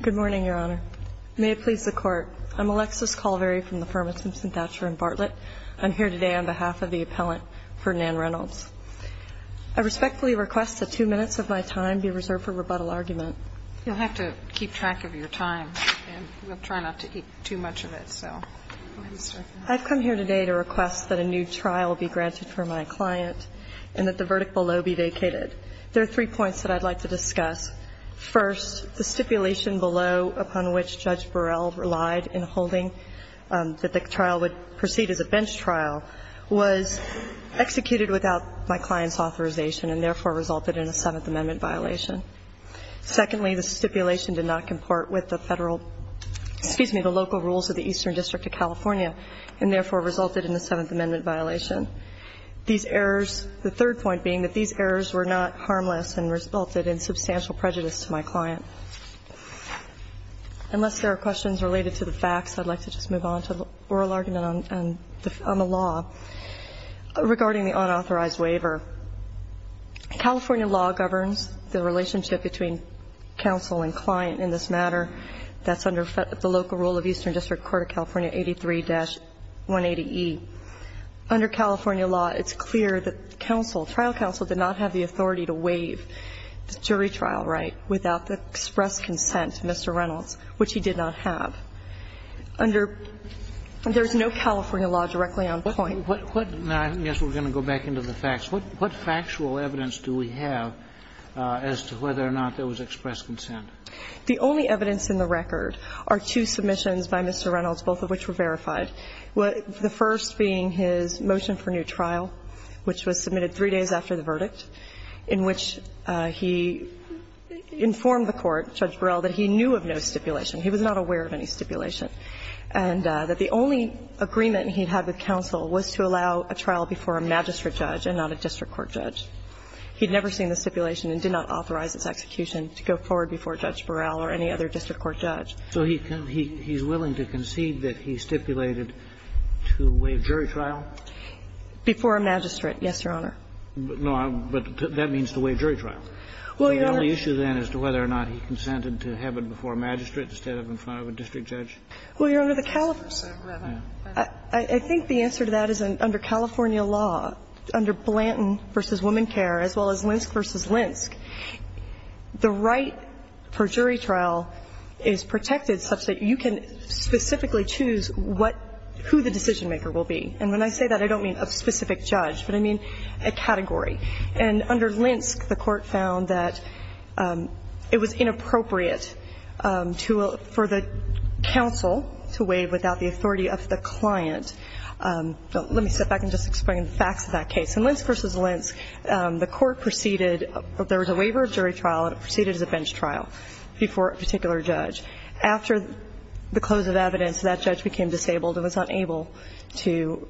Good morning, Your Honor. May it please the Court. I'm Alexis Calvary from the firm of Simpson Thatcher & Bartlett. I'm here today on behalf of the appellant, Ferdinand Reynolds. I respectfully request that two minutes of my time be reserved for rebuttal argument. You'll have to keep track of your time, and we'll try not to eat too much of it, so go ahead, Mr. McLaughlin. I've come here today to request that a new trial be granted for my client and that the verdict below be vacated. There are three points that I'd like to discuss. First, the stipulation below, upon which Judge Burrell relied in holding that the trial would proceed as a bench trial, was executed without my client's authorization and therefore resulted in a Seventh Amendment violation. Secondly, the stipulation did not comport with the Federal – excuse me, the local rules of the Eastern District of California and therefore resulted in a Seventh Amendment violation. These errors – the third point being that these errors were not harmless and resulted in substantial prejudice to my client. Unless there are questions related to the facts, I'd like to just move on to the oral argument on the law regarding the unauthorized waiver. California law governs the relationship between counsel and client in this matter. That's under the local rule of Eastern District Court of California 83-180E. Under California law, it's clear that counsel – trial counsel did not have the authority to waive the jury trial right without the express consent of Mr. Reynolds, which he did not have. Under – there's no California law directly on point. What – now, I guess we're going to go back into the facts. What factual evidence do we have as to whether or not there was express consent? The only evidence in the record are two submissions by Mr. Reynolds, both of which were verified, the first being his motion for new trial, which was submitted three days after the verdict, in which he informed the court, Judge Burrell, that he knew of no stipulation. He was not aware of any stipulation. And that the only agreement he had with counsel was to allow a trial before a magistrate judge and not a district court judge. He'd never seen the stipulation and did not authorize its execution to go forward before Judge Burrell or any other district court judge. So he's willing to concede that he stipulated to waive jury trial? Before a magistrate, yes, Your Honor. No, but that means to waive jury trial. Well, Your Honor – The only issue then is to whether or not he consented to have it before a magistrate instead of in front of a district judge. Well, Your Honor, the California – I think the answer to that is under California law, under Blanton v. Womancare, as well as Linsk v. Linsk, the right for jury trial is protected such that you can specifically choose what – who the decision-maker will be. And when I say that, I don't mean a specific judge, but I mean a category. And under Linsk, the court found that it was inappropriate to – for the counsel to waive without the authority of the client. Let me step back and just explain the facts of that case. In Linsk v. Linsk, the court proceeded – there was a waiver of jury trial and it proceeded as a bench trial before a particular judge. After the close of evidence, that judge became disabled and was unable to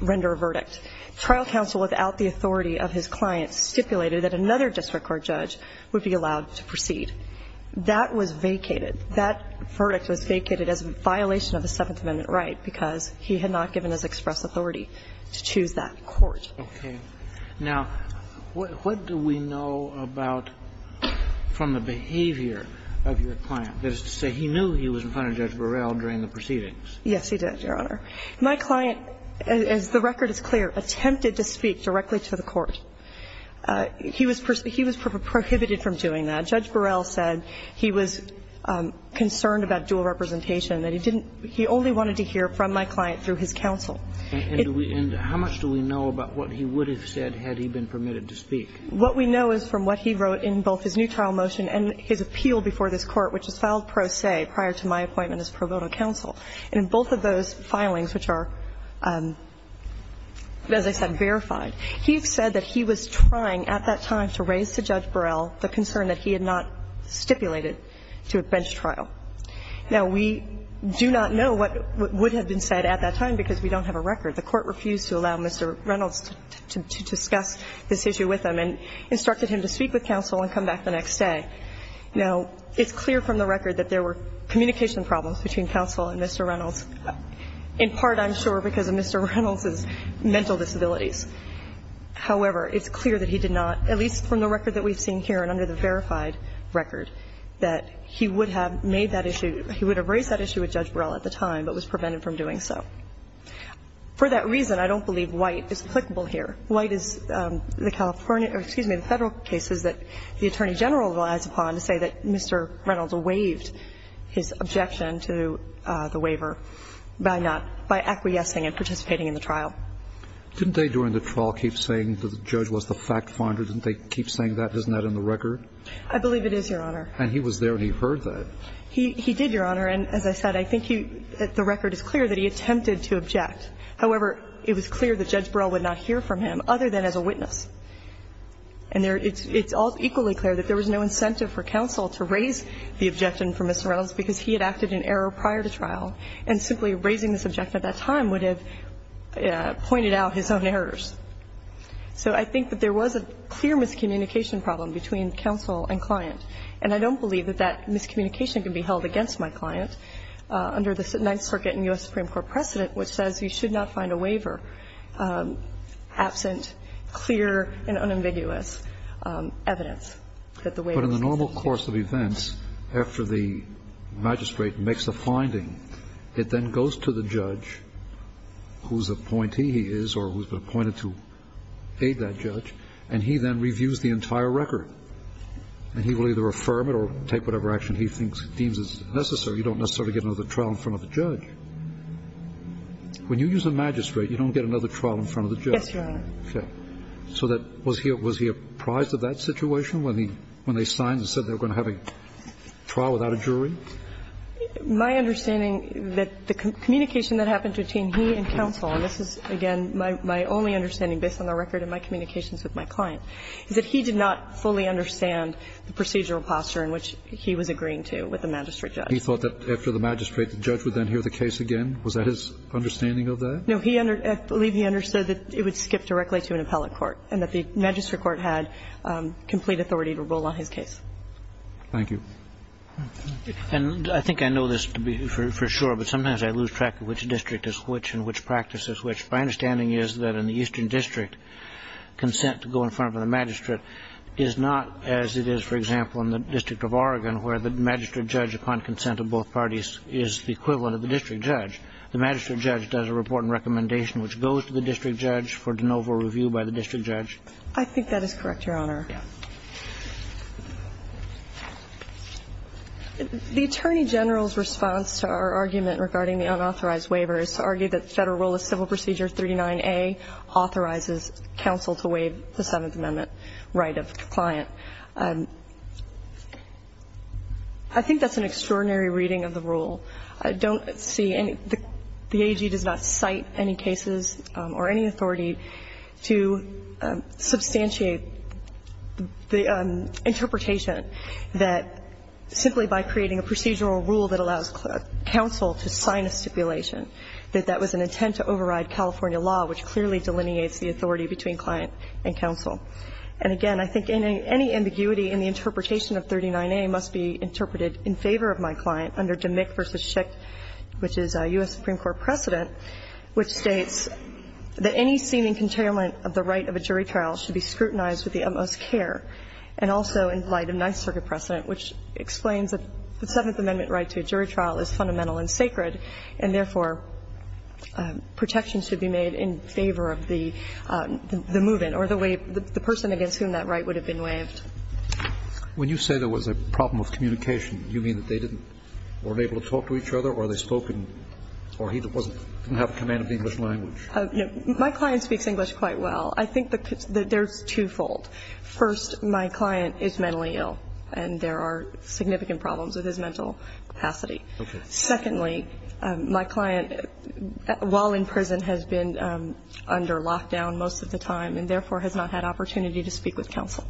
render a verdict. Trial counsel, without the authority of his client, stipulated that another district court judge would be allowed to proceed. That was vacated. That verdict was vacated as a violation of the Seventh Amendment right because he had not given his express authority to choose that court. Okay. Now, what do we know about – from the behavior of your client? That is to say, he knew he was in front of Judge Burrell during the proceedings. Yes, he did, Your Honor. My client, as the record is clear, attempted to speak directly to the court. He was – he was prohibited from doing that. Judge Burrell said he was concerned about dual representation, that he didn't – he only wanted to hear from my client through his counsel. And do we – and how much do we know about what he would have said had he been permitted to speak? What we know is from what he wrote in both his new trial motion and his appeal before this Court, which was filed pro se prior to my appointment as pro bono counsel. And in both of those filings, which are, as I said, verified, he said that he was trying at that time to raise to Judge Burrell the concern that he had not stipulated to a bench trial. Now, we do not know what would have been said at that time because we don't have a record. The court refused to allow Mr. Reynolds to discuss this issue with him and instructed him to speak with counsel and come back the next day. Now, it's clear from the record that there were communication problems between counsel and Mr. Reynolds, in part, I'm sure, because of Mr. Reynolds' mental disabilities. However, it's clear that he did not – at least from the record that we've seen here and under the verified record, that he would have made that issue – he would have raised that issue with Judge Burrell at the time but was prevented from doing so. For that reason, I don't believe White is applicable here. White is the California – or excuse me, the Federal cases that the Attorney General relies upon to say that Mr. Reynolds waived his objection to the waiver by not – by acquiescing and participating in the trial. Didn't they, during the trial, keep saying that the judge was the fact finder? Didn't they keep saying that? Isn't that in the record? I believe it is, Your Honor. And he was there and he heard that. He did, Your Honor. And as I said, I think he – the record is clear that he attempted to object. However, it was clear that Judge Burrell would not hear from him other than as a witness. And there – it's all equally clear that there was no incentive for counsel to raise the objection for Mr. Reynolds because he had acted in error prior to trial. And simply raising this objection at that time would have pointed out his own errors. So I think that there was a clear miscommunication problem between counsel and client. And I don't believe that that miscommunication can be held against my client under the Ninth Circuit and U.S. Supreme Court precedent, which says you should not find a waiver absent clear and unambiguous evidence that the waiver was insufficient. But in the normal course of events, after the magistrate makes a finding, it then goes to the judge, whose appointee he is or who's been appointed to aid that judge, and he then reviews the entire record. And he will either affirm it or take whatever action he thinks – deems as necessary. You don't necessarily get another trial in front of the judge. When you use a magistrate, you don't get another trial in front of the judge. Yes, Your Honor. Okay. So that – was he apprised of that situation when he – when they signed and said they were going to have a trial without a jury? My understanding that the communication that happened between he and counsel – and this is, again, my only understanding based on the record and my communications with my client – is that he did not fully understand the procedural posture in which he was agreeing to with the magistrate judge. He thought that after the magistrate, the judge would then hear the case again? Was that his understanding of that? No, he – I believe he understood that it would skip directly to an appellate court and that the magistrate court had complete authority to rule on his case. Thank you. And I think I know this to be for sure, but sometimes I lose track of which district is which and which practice is which. My understanding is that in the Eastern District, consent to go in front of the magistrate is not as it is, for example, in the District of Oregon, where the magistrate judge, upon consent of both parties, is the equivalent of the district judge. The magistrate judge does a report and recommendation which goes to the district judge for de novo review by the district judge. I think that is correct, Your Honor. The Attorney General's response to our argument regarding the unauthorized waiver is to argue that Federal Rule of Civil Procedure 39A authorizes counsel to waive the Seventh Amendment right of client. I think that's an extraordinary reading of the rule. I don't see any – the AG does not cite any cases or any authority to substantiate the interpretation that simply by creating a procedural rule that allows counsel to sign a stipulation, that that was an intent to override California law, which clearly delineates the authority between client and counsel. And again, I think any ambiguity in the interpretation of 39A must be interpreted in favor of my client under Dmyk v. Schick, which is a U.S. Supreme Court precedent, which states that any seeming containment of the right of a jury trial should be of utmost care. And also in light of Ninth Circuit precedent, which explains that the Seventh Amendment right to a jury trial is fundamental and sacred, and therefore, protection should be made in favor of the move-in or the way – the person against whom that right would have been waived. When you say there was a problem of communication, you mean that they didn't – weren't able to talk to each other or they spoke in – or he didn't have command of the English language? My client speaks English quite well. I think the – there's twofold. First, my client is mentally ill and there are significant problems with his mental capacity. Okay. Secondly, my client, while in prison, has been under lockdown most of the time and therefore has not had opportunity to speak with counsel.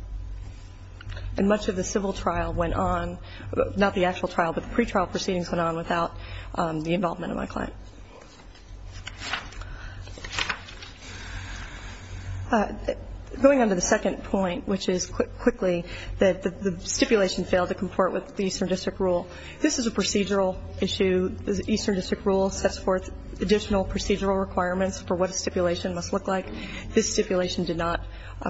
And much of the civil trial went on – not the actual trial, but the pretrial proceedings went on without the involvement of my client. Going on to the second point, which is, quickly, that the stipulation failed to comport with the Eastern District Rule. This is a procedural issue. The Eastern District Rule sets forth additional procedural requirements for what a stipulation must look like. This stipulation did not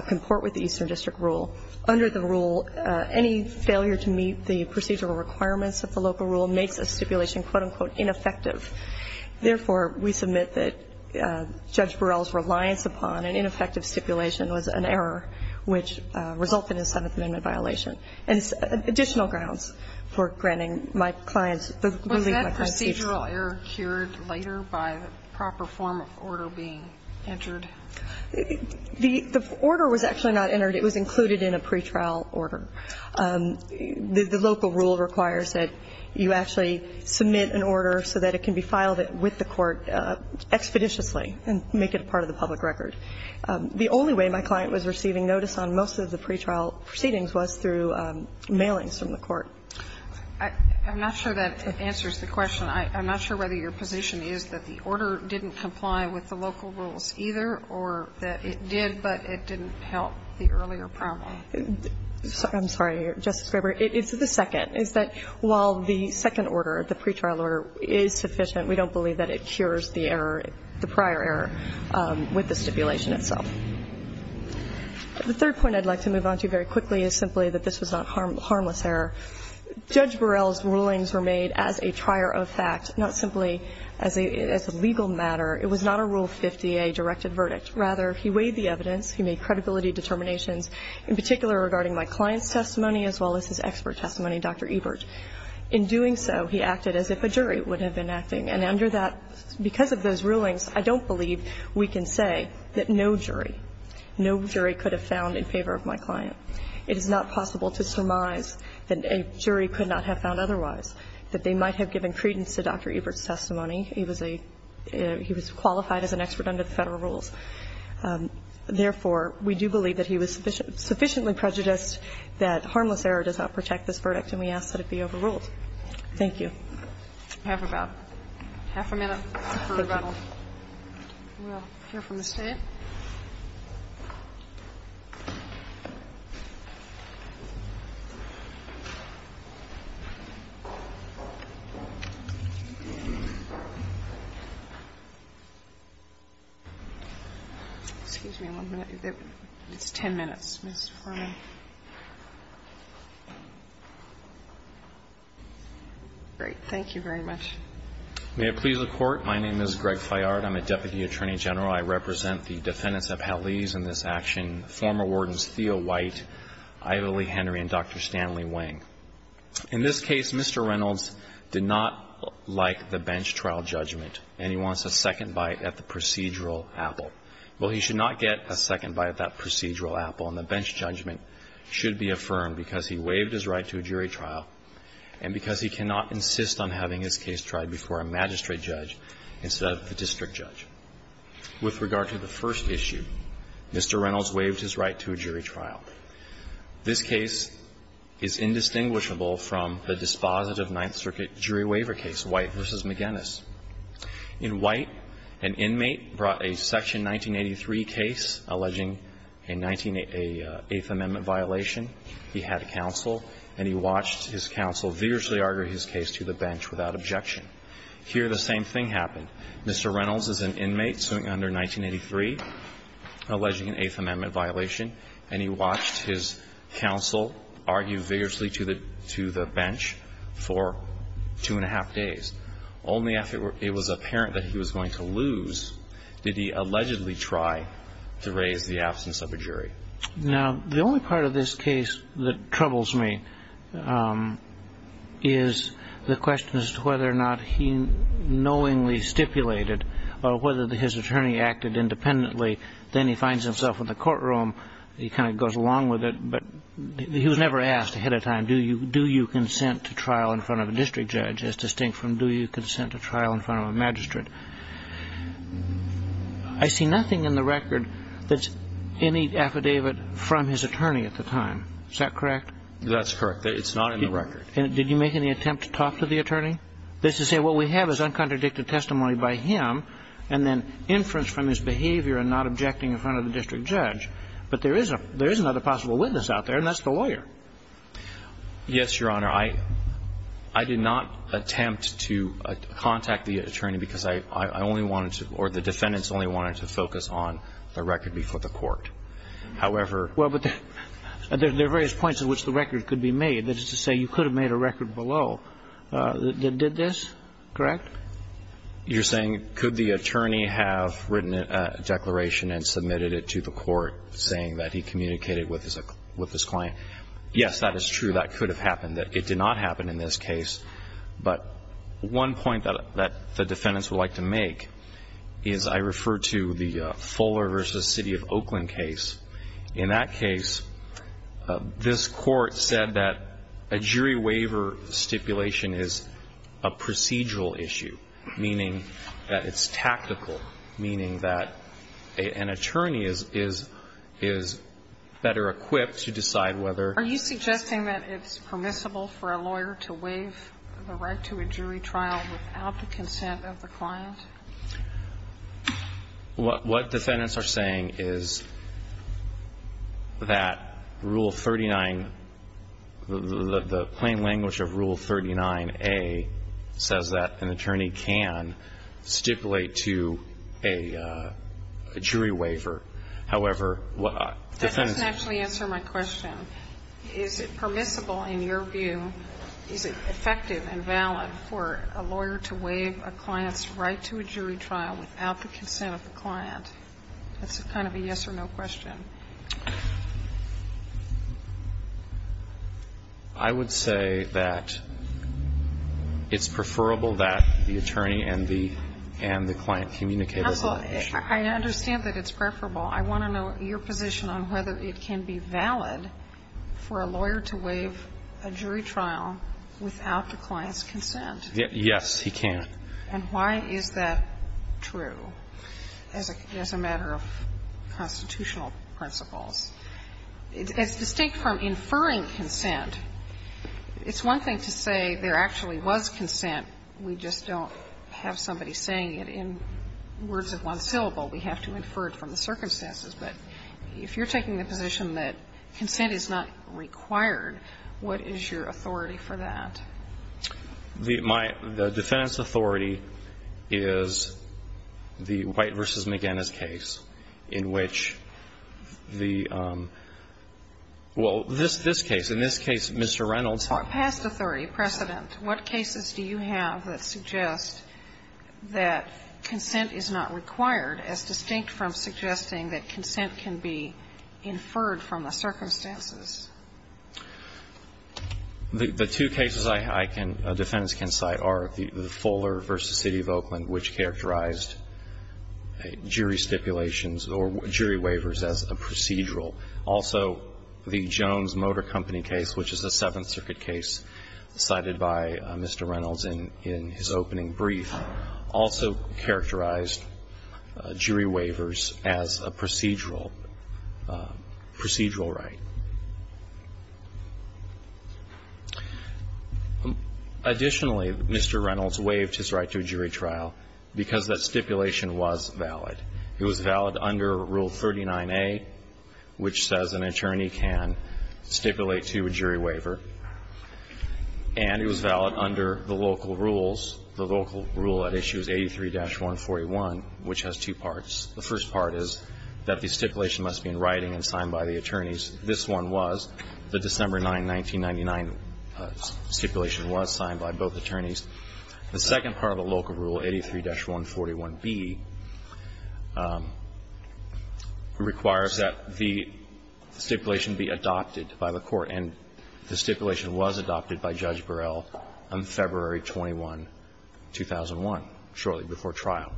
comport with the Eastern District Rule. Under the rule, any failure to meet the procedural requirements of the local rule makes a stipulation, quote-unquote, ineffective. Therefore, we submit that Judge Burrell's reliance upon an ineffective stipulation was an error, which resulted in a Seventh Amendment violation. And additional grounds for granting my client's – the ruling my client speaks to. Was that procedural error cured later by the proper form of order being entered? The order was actually not entered. It was included in a pretrial order. The local rule requires that you actually submit an order so that it can be filed with the court expeditiously and make it a part of the public record. The only way my client was receiving notice on most of the pretrial proceedings was through mailings from the court. I'm not sure that answers the question. I'm not sure whether your position is that the order didn't comply with the local rules either or that it did, but it didn't help the earlier problem. I'm sorry, Justice Graber. It's the second. It's that while the second order, the pretrial order, is sufficient, we don't believe that it cures the error – the prior error with the stipulation itself. The third point I'd like to move on to very quickly is simply that this was not harmless error. Judge Burrell's rulings were made as a trier of fact, not simply as a legal matter. It was not a Rule 50A directed verdict. Rather, he weighed the evidence. He made credibility determinations, in particular regarding my client's expert testimony, Dr. Ebert. In doing so, he acted as if a jury would have been acting. And under that – because of those rulings, I don't believe we can say that no jury – no jury could have found in favor of my client. It is not possible to surmise that a jury could not have found otherwise, that they might have given credence to Dr. Ebert's testimony. He was a – he was qualified as an expert under the Federal rules. Therefore, we do believe that he was sufficiently prejudiced that harmless error does not protect this verdict, and we ask that it be overruled. Thank you. We have about half a minute for rebuttal. Thank you. We will hear from the State. Excuse me one minute. It's 10 minutes, Ms. Foreman. Great. Thank you very much. May it please the Court. My name is Greg Fayard. I'm a deputy attorney general. I represent the defendants of Hallease in this action, former wardens Theo White, Ivlee Henry, and Dr. Stanley Wang. In this case, Mr. Reynolds did not like the bench trial judgment, and he wants a second bite at the procedural apple. Well, he should not get a second bite at that procedural apple, and the bench judgment should be affirmed because he waived his right to a jury trial and because he cannot insist on having his case tried before a magistrate judge instead of the district judge. With regard to the first issue, Mr. Reynolds waived his right to a jury trial. This case is indistinguishable from the dispositive Ninth Circuit jury waiver case, White v. McGinnis. In White, an inmate brought a Section 1983 case alleging an Eighth Amendment violation. He had counsel, and he watched his counsel vigorously argue his case to the bench without objection. Here, the same thing happened. Mr. Reynolds is an inmate, suing under 1983, alleging an Eighth Amendment violation, and he watched his counsel argue vigorously to the bench for two and a half days. Only after it was apparent that he was going to lose did he allegedly try to raise the absence of a jury. Now, the only part of this case that troubles me is the question as to whether or not he knowingly stipulated or whether his attorney acted independently. Then he finds himself in the courtroom. He kind of goes along with it, but he was never asked ahead of time, do you consent to trial in front of a district judge as distinct from do you consent to trial in front of a magistrate? I see nothing in the record that's any affidavit from his attorney at the time. Is that correct? That's correct. It's not in the record. Did you make any attempt to talk to the attorney? Just to say what we have is uncontradicted testimony by him and then inference from his behavior and not objecting in front of the district judge. But there is another possible witness out there, and that's the lawyer. Yes, Your Honor. I did not attempt to contact the attorney because I only wanted to or the defendants only wanted to focus on the record before the court. However. Well, but there are various points at which the record could be made. That is to say you could have made a record below that did this, correct? You're saying could the attorney have written a declaration and submitted it to the court saying that he communicated with his client? Yes, that is true. That could have happened. It did not happen in this case. But one point that the defendants would like to make is I refer to the Fuller v. City of Oakland case. In that case, this court said that a jury waiver stipulation is a procedural issue, meaning that it's tactical, meaning that an attorney is better equipped to decide whether. Are you suggesting that it's permissible for a lawyer to waive the right to a jury trial without the consent of the client? What defendants are saying is that Rule 39, the plain language of Rule 39A says that an attorney can stipulate to a jury waiver. However, defendants. You didn't actually answer my question. Is it permissible in your view, is it effective and valid for a lawyer to waive a client's right to a jury trial without the consent of the client? That's kind of a yes or no question. I would say that it's preferable that the attorney and the client communicate with the client. Counsel, I understand that it's preferable. I want to know your position on whether it can be valid for a lawyer to waive a jury trial without the client's consent. Yes, he can. And why is that true as a matter of constitutional principles? It's distinct from inferring consent. It's one thing to say there actually was consent. We just don't have somebody saying it in words of one syllable. We have to infer it from the circumstances. But if you're taking the position that consent is not required, what is your authority for that? The defendant's authority is the White v. McGinnis case in which the ñ well, this case. In this case, Mr. Reynolds. For a past authority precedent, what cases do you have that suggest that consent is not required as distinct from suggesting that consent can be inferred from the circumstances? The two cases I can ñ defendants can cite are the Fuller v. City of Oakland, which characterized jury stipulations or jury waivers as a procedural. Also, the Jones Motor Company case, which is a Seventh Circuit case cited by Mr. Reynolds, characterized jury waivers as a procedural right. Additionally, Mr. Reynolds waived his right to a jury trial because that stipulation was valid. It was valid under Rule 39A, which says an attorney can stipulate to a jury waiver. And it was valid under the local rules. The local rule at issue is 83-141, which has two parts. The first part is that the stipulation must be in writing and signed by the attorneys. This one was. The December 9, 1999 stipulation was signed by both attorneys. The second part of the local rule, 83-141B, requires that the stipulation be adopted by the court. And the stipulation was adopted by Judge Burrell on February 21, 2001, shortly before trial.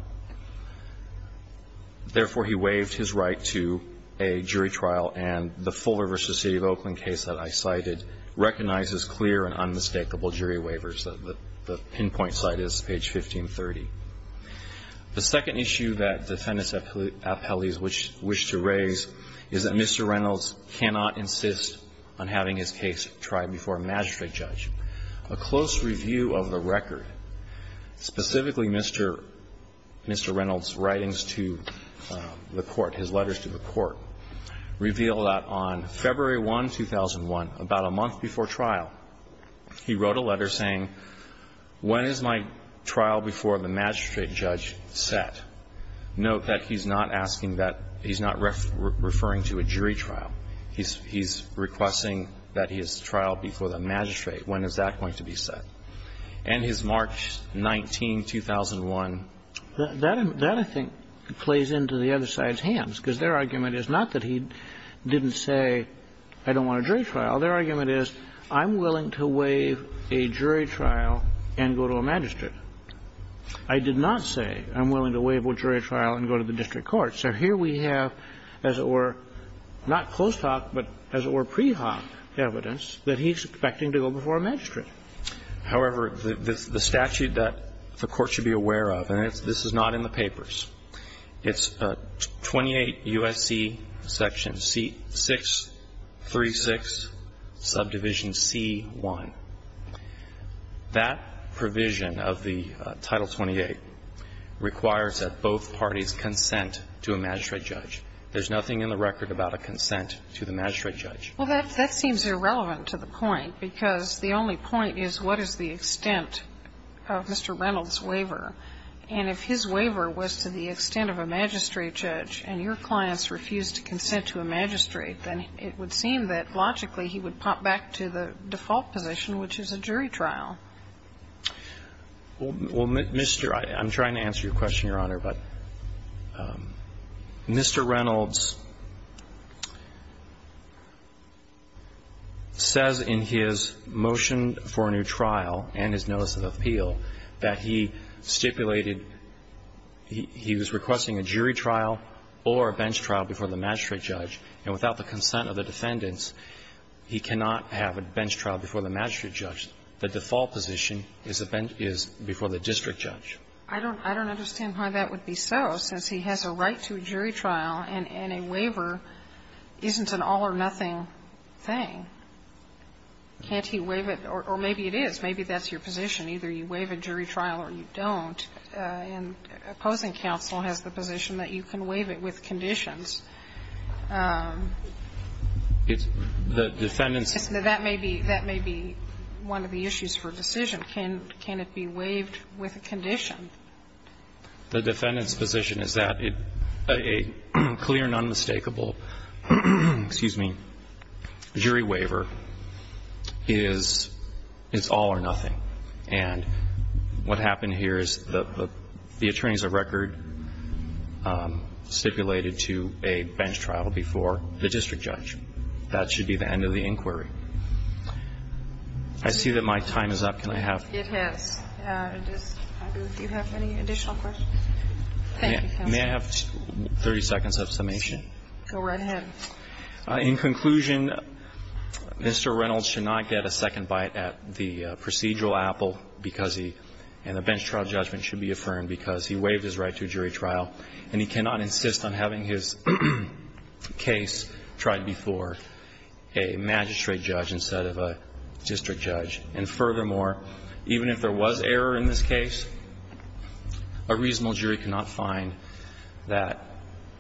Therefore, he waived his right to a jury trial. And the Fuller v. City of Oakland case that I cited recognizes clear and unmistakable jury waivers. The pinpoint site is page 1530. The second issue that defendantsí appellees wish to raise is that Mr. Reynolds cannot insist on having his case tried before a magistrate judge. A close review of the record, specifically Mr. Reynoldsí writings to the court, his letters to the court, reveal that on February 1, 2001, about a month before trial, he wrote a letter saying, ìWhen is my trial before the magistrate judge set?î Heís requesting that his trial be before the magistrate. When is that going to be set? And his March 19, 2001. That, I think, plays into the other sideís hands, because their argument is not that he didnít say, ìI donít want a jury trial.î Their argument is, ìIím willing to waive a jury trial and go to a magistrate.î I did not say, ìIím willing to waive a jury trial and go to the district court.î So here we have, as it were, not close talk, but as it were pre-hoc evidence, that heís expecting to go before a magistrate. However, the statute that the court should be aware of, and this is not in the papers, itís 28 U.S.C. Section 636, Subdivision C-1. That provision of the Title 28 requires that both parties consent to a magistrate judge. Thereís nothing in the record about a consent to the magistrate judge. Well, that seems irrelevant to the point, because the only point is what is the extent of Mr. Reynoldsí waiver. And if his waiver was to the extent of a magistrate judge and your clients refused to consent to a magistrate, then it would seem that, logically, he would pop back to the default position, which is a jury trial. Well, Mr. ñ Iím trying to answer your question, Your Honor, but Mr. Reynolds says in his motion for a new trial and his notice of appeal that he stipulated he was requesting a jury trial or a bench trial before the magistrate judge, and without the consent of the defendants, he cannot have a bench trial before the magistrate judge, the default position is before the district judge. I donít understand why that would be so, since he has a right to a jury trial and a waiver isnít an all-or-nothing thing. Canít he waive it? Or maybe it is. Maybe thatís your position. Either you waive a jury trial or you donít. And opposing counsel has the position that you can waive it with conditions. The defendantísó That may be one of the issues for decision. Can it be waived with a condition? The defendantís position is that a clear and unmistakable jury waiver is all-or-nothing. And what happened here is the attorney has a record stipulated to a bench trial before the district judge. That should be the end of the inquiry. I see that my time is up. Can I haveó It is. Do you have any additional questions? Thank you, counsel. May I have 30 seconds of summation? Go right ahead. In conclusion, Mr. Reynolds should not get a second bite at the procedural apple because heóand the bench trial judgment should be affirmed because he waived his right to a jury trial, and he cannot insist on having his case tried before a magistrate judge instead of a district judge. And furthermore, even if there was error in this case, a reasonable jury could not find that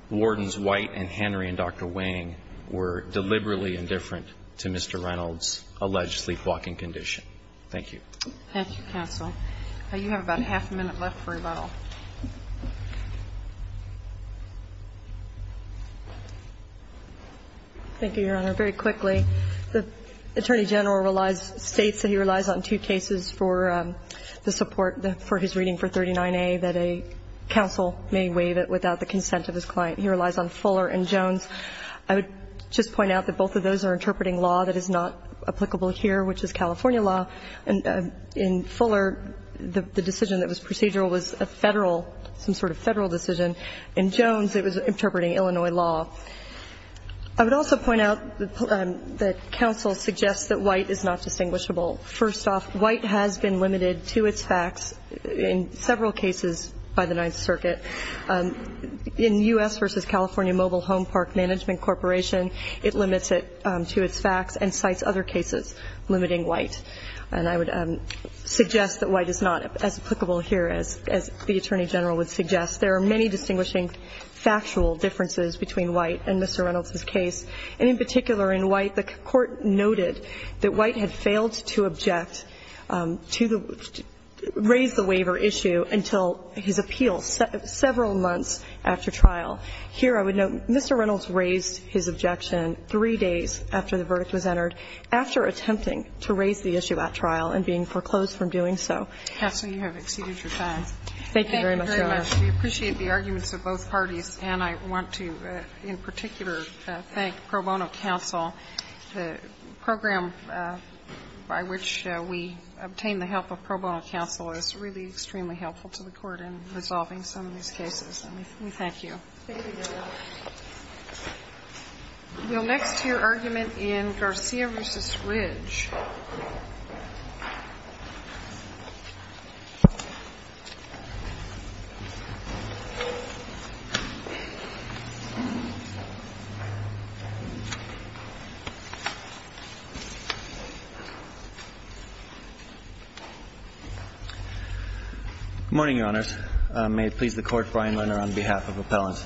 wardens White and Henry and Dr. Wang were deliberately indifferent to Mr. Reynoldsí alleged sleepwalking condition. Thank you. Thank you, counsel. You have about a half a minute left for rebuttal. Thank you, Your Honor. Very quickly, the attorney general states that he relies on two cases for the support for his reading for 39A, that a counsel may waive it without the consent of his client. He relies on Fuller and Jones. I would just point out that both of those are interpreting law that is not applicable here, which is California law. In Fuller, the decision that was procedural was a Federal, some sort of Federal decision. In Jones, it was interpreting Illinois law. I would also point out that counsel suggests that White is not distinguishable. First off, White has been limited to its facts in several cases by the Ninth Circuit. In U.S. v. California Mobile Home Park Management Corporation, it limits it to its facts and cites other cases limiting White. And I would suggest that White is not as applicable here as the attorney general would suggest. There are many distinguishing factual differences between White and Mr. Reynoldsís case. And in particular, in White, the Court noted that White had failed to object to the ñ raise the waiver issue until his appeal several months after trial. Here, I would note, Mr. Reynolds raised his objection three days after the verdict was entered after attempting to raise the issue at trial and being foreclosed from doing so. Kagan. Kastner, you have exceeded your time. Thank you very much, Your Honor. Thank you very much. We appreciate the arguments of both parties. And I want to, in particular, thank Pro Bono Counsel. The program by which we obtained the help of Pro Bono Counsel is really extremely helpful to the Court in resolving some of these cases. And we thank you. Thank you, Your Honor. We will next hear argument in Garcia v. Ridge. Good morning, Your Honors. May it please the Court, Brian Lerner on behalf of Appellants.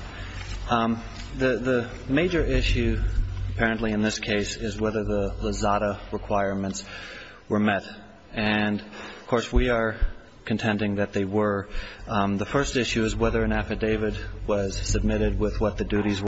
The major issue, apparently in this case, is whether the Lozada requirements were met. And, of course, we are contending that they were. The first issue is whether an affidavit was submitted. The second issue is whether an affidavit was submitted with what the duties were.